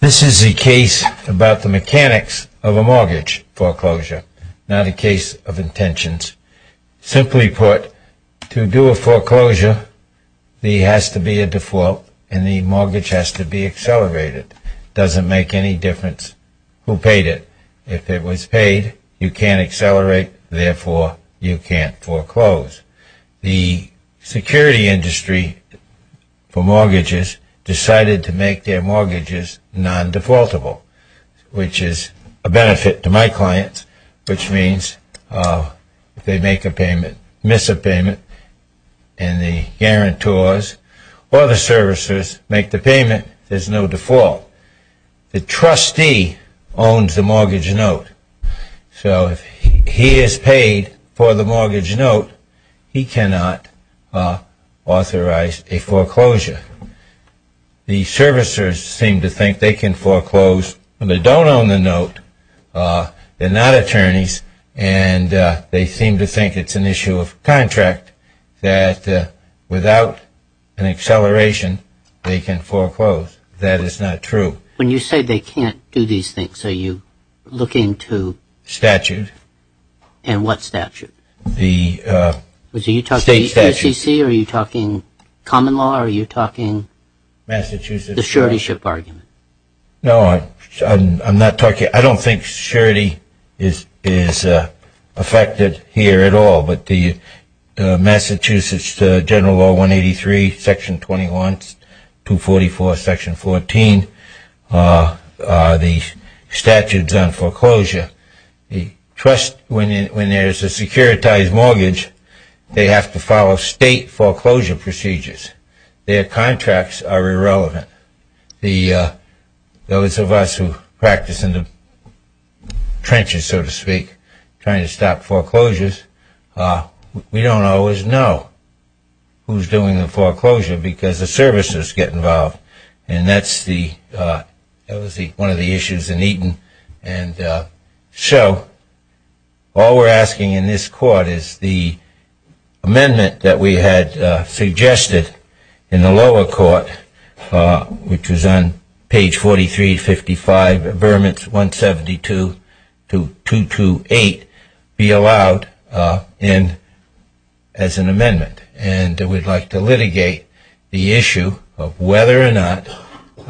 This is a case about the mechanics of a mortgage foreclosure, not a case of intentions. Simply put, to do a foreclosure, there has to be a default, and the mortgage has to be accelerated. It doesn't make any difference who paid it. If it was paid, you can't accelerate, therefore, the foreclosure has to be made. You can't foreclose. The security industry for mortgages decided to make their mortgages non-defaultable, which is a benefit to my clients, which means if they make a payment, miss a payment, and the guarantors or the servicers make the payment, there's no default. The trustee owns the mortgage note, so if he is paid for the mortgage note, he cannot authorize a foreclosure. The servicers seem to think they can foreclose when they don't own the note. They're not attorneys, and they seem to think it's an issue of contract that without an acceleration, they can foreclose. That is not true. When you say they can't do these things, are you looking to... Statute. And what statute? The state statute. Are you talking SEC? Are you talking common law? Are you talking... Massachusetts. The suretyship argument? No, I'm not talking... I don't think surety is affected here at all, but the Massachusetts General Law 183, Section 21, 244, Section 14, the statutes on foreclosure, the trust, when there's a securitized mortgage, they have to follow state foreclosure procedures. Their contracts are irrelevant. Those of us who practice in the trenches, so to speak, trying to stop foreclosures, we don't always know who's doing the foreclosure because the servicers get involved, and that's one of the issues in Eaton. And so all we're asking in this court is the amendment that we had suggested in the lower court, which was on page 4355, vermin 172 to 228, be allowed in as an amendment. And we'd like to litigate the issue of whether or not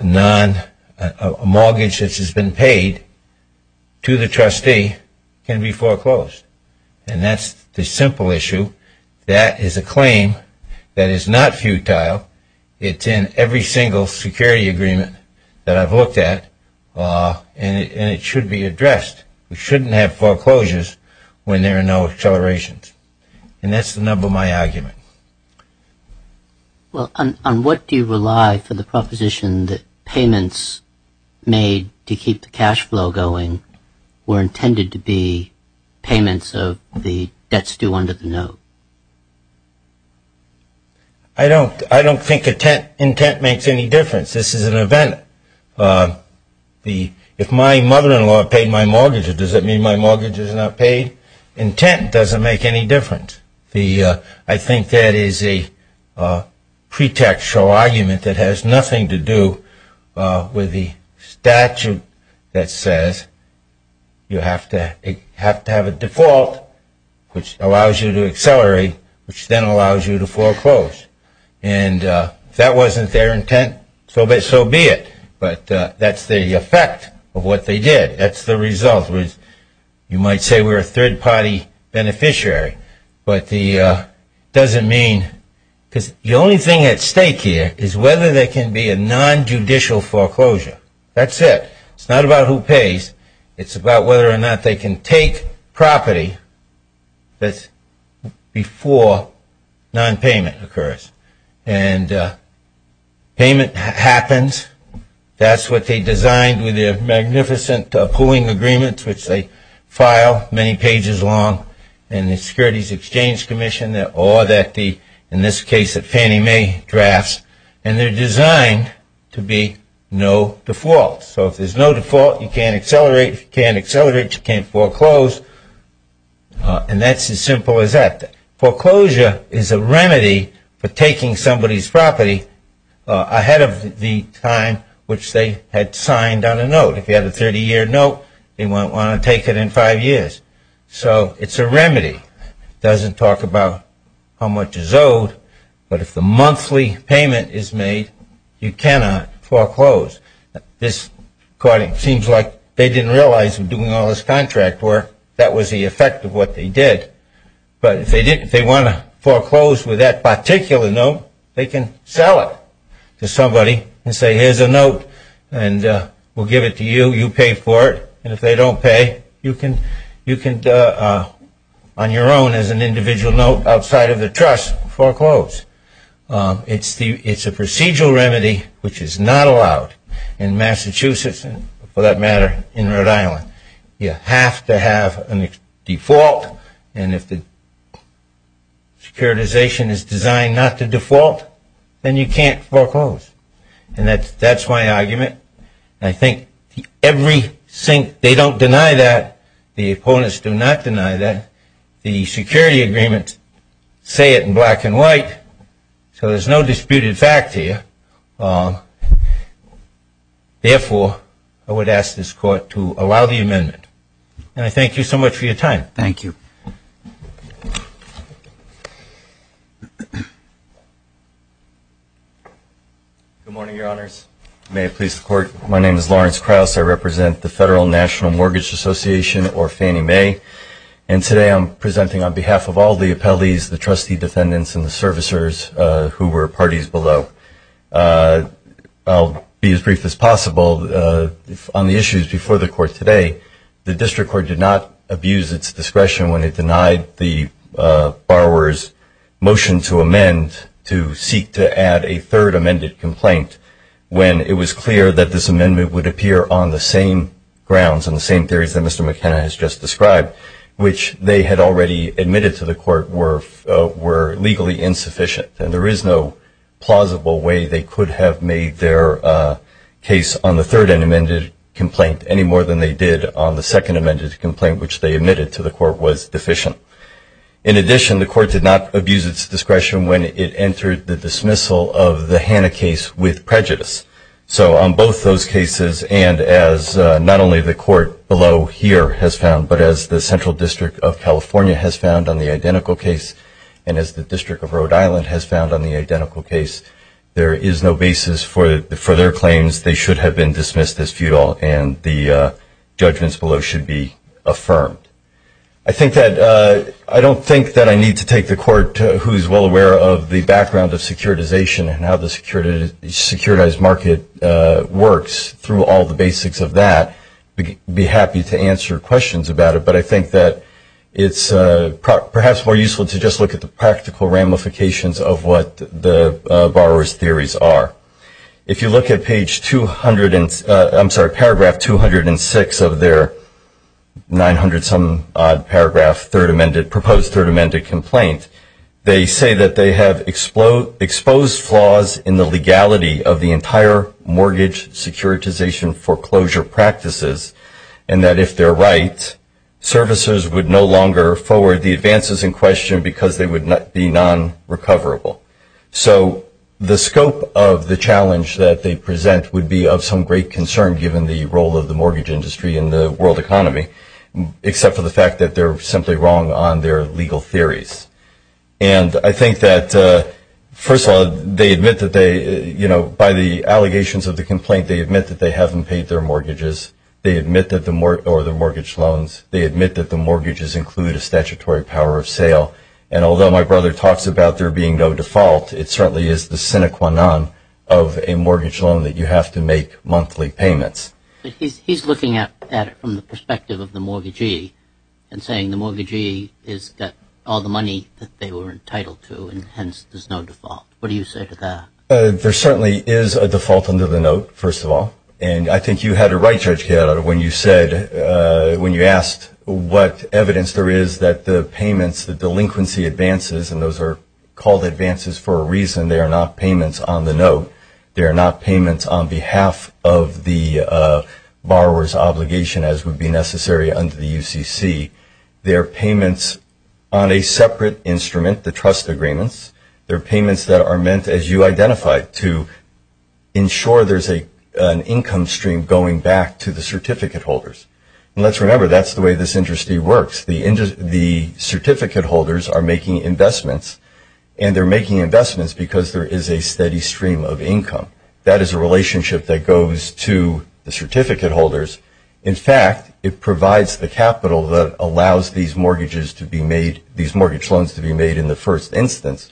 a mortgage that has been paid to the trustee can be foreclosed. And that's the simple issue. That is a claim that is not futile. It's in every single security agreement that I've looked at, and it should be addressed. We shouldn't have foreclosures when there are no accelerations. And that's the nub of my argument. Well, on what do you rely for the proposition that payments made to keep the cash flow going were intended to be payments of the debts due under the note? I don't think intent makes any difference. This is an event. If my mother-in-law paid my mortgage, does that mean my mortgage is not paid? Intent doesn't make any difference. I think that is a pretextual argument that has nothing to do with the statute that says you have to have a default, which allows you to accelerate, which then allows you to foreclose. And if that wasn't their intent, so be it. But that's the effect of what they did. That's the result. You might say we're a third-party beneficiary, but it doesn't mean. Because the only thing at stake here is whether there can be a nonjudicial foreclosure. That's it. It's not about who pays. It's about whether or not they can take property before nonpayment occurs. And payment happens. That's what they designed with their magnificent pooling agreements, which they file many pages long in the Securities Exchange Commission, or in this case at Fannie Mae Drafts. And they're designed to be no default. So if there's no default, you can't accelerate, you can't accelerate, you can't foreclose. And that's as simple as that. Foreclosure is a remedy for taking somebody's property ahead of the time which they had signed on a note. If you had a 30-year note, they wouldn't want to take it in five years. So it's a remedy. It doesn't talk about how much is owed. But if the monthly payment is made, you cannot foreclose. This seems like they didn't realize in doing all this contract work that was the effect of what they did. But if they want to foreclose with that particular note, they can sell it to somebody and say, here's a note and we'll give it to you. You pay for it. And if they don't pay, you can, on your own as an individual note outside of the trust, foreclose. It's a procedural remedy which is not allowed in Massachusetts and, for that matter, in Rhode Island. You have to have a default. And if the securitization is designed not to default, then you can't foreclose. And that's my argument. I think every sink, they don't deny that. The opponents do not deny that. The security agreements say it in black and white. So there's no disputed fact here. Therefore, I would ask this Court to allow the amendment. And I thank you so much for your time. Thank you. Good morning, Your Honors. May it please the Court. My name is Lawrence Krauss. I represent the Federal National Mortgage Association or Fannie Mae. And today I'm presenting on behalf of all the appellees, the trustee defendants, and the servicers who were parties below. I'll be as brief as possible. On the issues before the Court today, the district court did not abuse its discretion when it denied the borrower's motion to amend to seek to add a third amended complaint, when it was clear that this amendment would appear on the same grounds, on the same theories that Mr. McKenna has just described, which they had already admitted to the Court were legally insufficient. And there is no plausible way they could have made their case on the third amended complaint any more than they did on the second amended complaint, which they admitted to the Court was deficient. In addition, the Court did not abuse its discretion when it entered the dismissal of the Hanna case with prejudice. So on both those cases, and as not only the Court below here has found, but as the Central District of California has found on the identical case, and as the District of Rhode Island has found on the identical case, there is no basis for their claims. They should have been dismissed as futile, and the judgments below should be affirmed. I don't think that I need to take the Court, who is well aware of the background of securitization and how the securitized market works through all the basics of that, be happy to answer questions about it. But I think that it's perhaps more useful to just look at the practical ramifications of what the borrower's theories are. If you look at paragraph 206 of their 900-some-odd proposed third amended complaint, they say that they have exposed flaws in the legality of the entire mortgage securitization foreclosure practices, and that if they're right, servicers would no longer forward the advances in question because they would be non-recoverable. So the scope of the challenge that they present would be of some great concern, given the role of the mortgage industry in the world economy, except for the fact that they're simply wrong on their legal theories. And I think that, first of all, they admit that they, you know, by the allegations of the complaint, they admit that they haven't paid their mortgages or their mortgage loans. They admit that the mortgages include a statutory power of sale. And although my brother talks about there being no default, it certainly is the sine qua non of a mortgage loan that you have to make monthly payments. But he's looking at it from the perspective of the mortgagee and saying the mortgagee has got all the money that they were entitled to, and hence there's no default. What do you say to that? There certainly is a default under the note, first of all. And I think you had it right, Judge Cato, when you asked what evidence there is that the payments, the delinquency advances, and those are called advances for a reason, they are not payments on the note. They are not payments on behalf of the borrower's obligation as would be necessary under the UCC. They are payments on a separate instrument, the trust agreements. They are payments that are meant, as you identified, to ensure there's an income stream going back to the certificate holders. And let's remember that's the way this industry works. The certificate holders are making investments, and they're making investments because there is a steady stream of income. That is a relationship that goes to the certificate holders. In fact, it provides the capital that allows these mortgages to be made, these mortgage loans to be made in the first instance.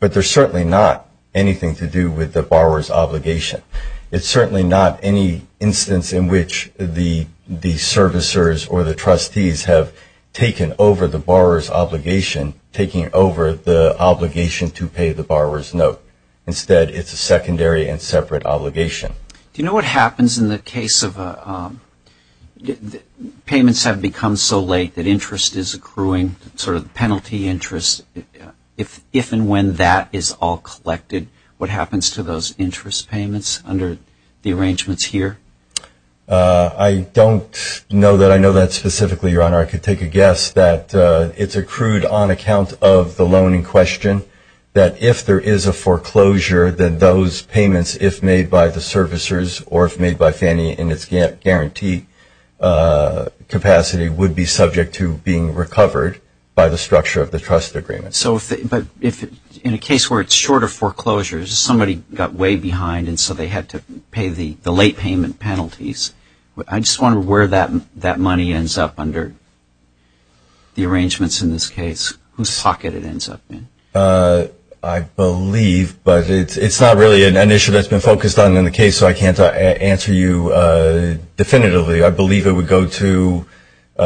But there's certainly not anything to do with the borrower's obligation. It's certainly not any instance in which the servicers or the trustees have taken over the borrower's obligation, taking over the obligation to pay the borrower's note. Instead, it's a secondary and separate obligation. Do you know what happens in the case of payments have become so late that interest is accruing, sort of penalty interest, if and when that is all collected, what happens to those interest payments under the arrangements here? I don't know that I know that specifically, Your Honor. I could take a guess that it's accrued on account of the loan in question, that if there is a foreclosure, then those payments, if made by the servicers or if made by Fannie in its guarantee capacity, would be subject to being recovered by the structure of the trust agreement. So if in a case where it's short of foreclosures, somebody got way behind and so they had to pay the late payment penalties, I just want to know where that money ends up under the arrangements in this case, whose pocket it ends up in. I believe, but it's not really an issue that's been focused on in the case, so I can't answer you definitively. I believe it would go to –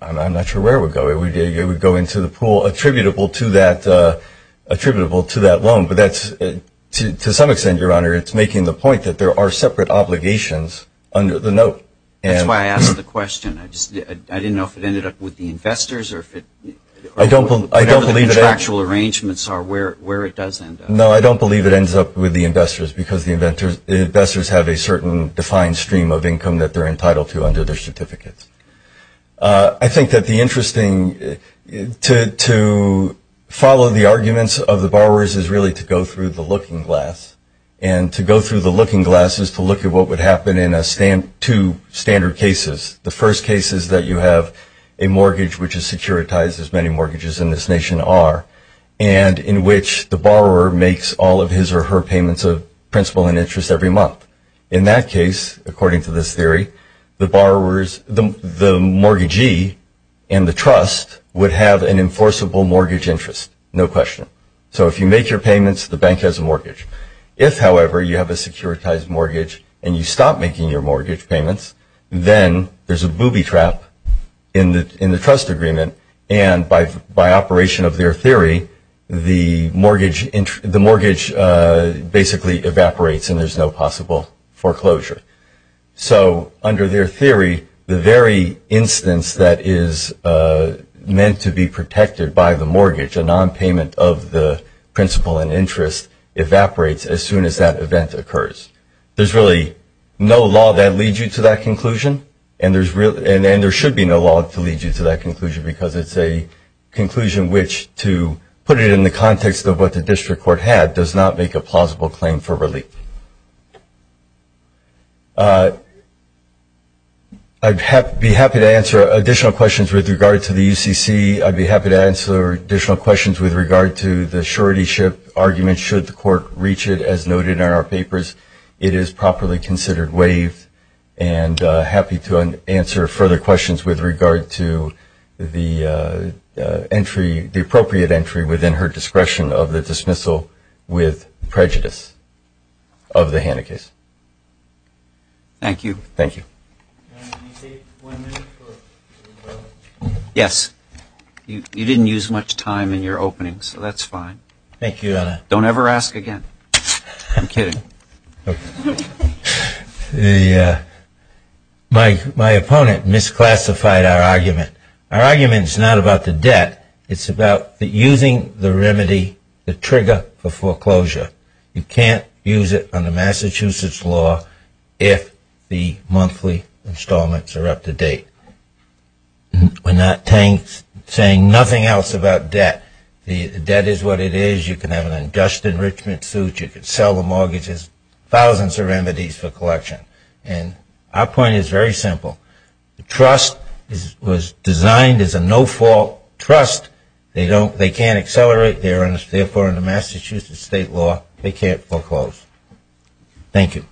I'm not sure where it would go. It would go into the pool attributable to that loan. But to some extent, Your Honor, it's making the point that there are separate obligations under the note. That's why I asked the question. I didn't know if it ended up with the investors or if it – I don't believe that –– or whatever the contractual arrangements are where it does end up. No, I don't believe it ends up with the investors because the investors have a certain defined stream of income that they're entitled to under their certificates. I think that the interesting – to follow the arguments of the borrowers is really to go through the looking glass. And to go through the looking glass is to look at what would happen in two standard cases. The first case is that you have a mortgage which is securitized, as many mortgages in this nation are, and in which the borrower makes all of his or her payments of principal and interest every month. In that case, according to this theory, the mortgagee and the trust would have an enforceable mortgage interest, no question. So if you make your payments, the bank has a mortgage. If, however, you have a securitized mortgage and you stop making your mortgage payments, then there's a booby trap in the trust agreement. And by operation of their theory, the mortgage basically evaporates and there's no possible foreclosure. So under their theory, the very instance that is meant to be protected by the mortgage, a nonpayment of the principal and interest, evaporates as soon as that event occurs. There's really no law that leads you to that conclusion, and there should be no law to lead you to that conclusion because it's a conclusion which, to put it in the context of what the district court had, does not make a plausible claim for relief. I'd be happy to answer additional questions with regard to the UCC. I'd be happy to answer additional questions with regard to the surety ship argument, should the court reach it, as noted in our papers. It is properly considered waived, and happy to answer further questions with regard to the appropriate entry within her discretion of the dismissal with prejudice of the Hanna case. Thank you. Thank you. Yes. You didn't use much time in your opening, so that's fine. Thank you, Anna. Don't ever ask again. I'm kidding. My opponent misclassified our argument. Our argument is not about the debt. It's about using the remedy, the trigger, for foreclosure. You can't use it under Massachusetts law if the monthly installments are up to date. We're not saying nothing else about debt. Debt is what it is. You can have an unjust enrichment suit. You can sell the mortgages, thousands of remedies for collection. And our point is very simple. The trust was designed as a no-fault trust. They can't accelerate. Therefore, under Massachusetts state law, they can't foreclose. Thank you.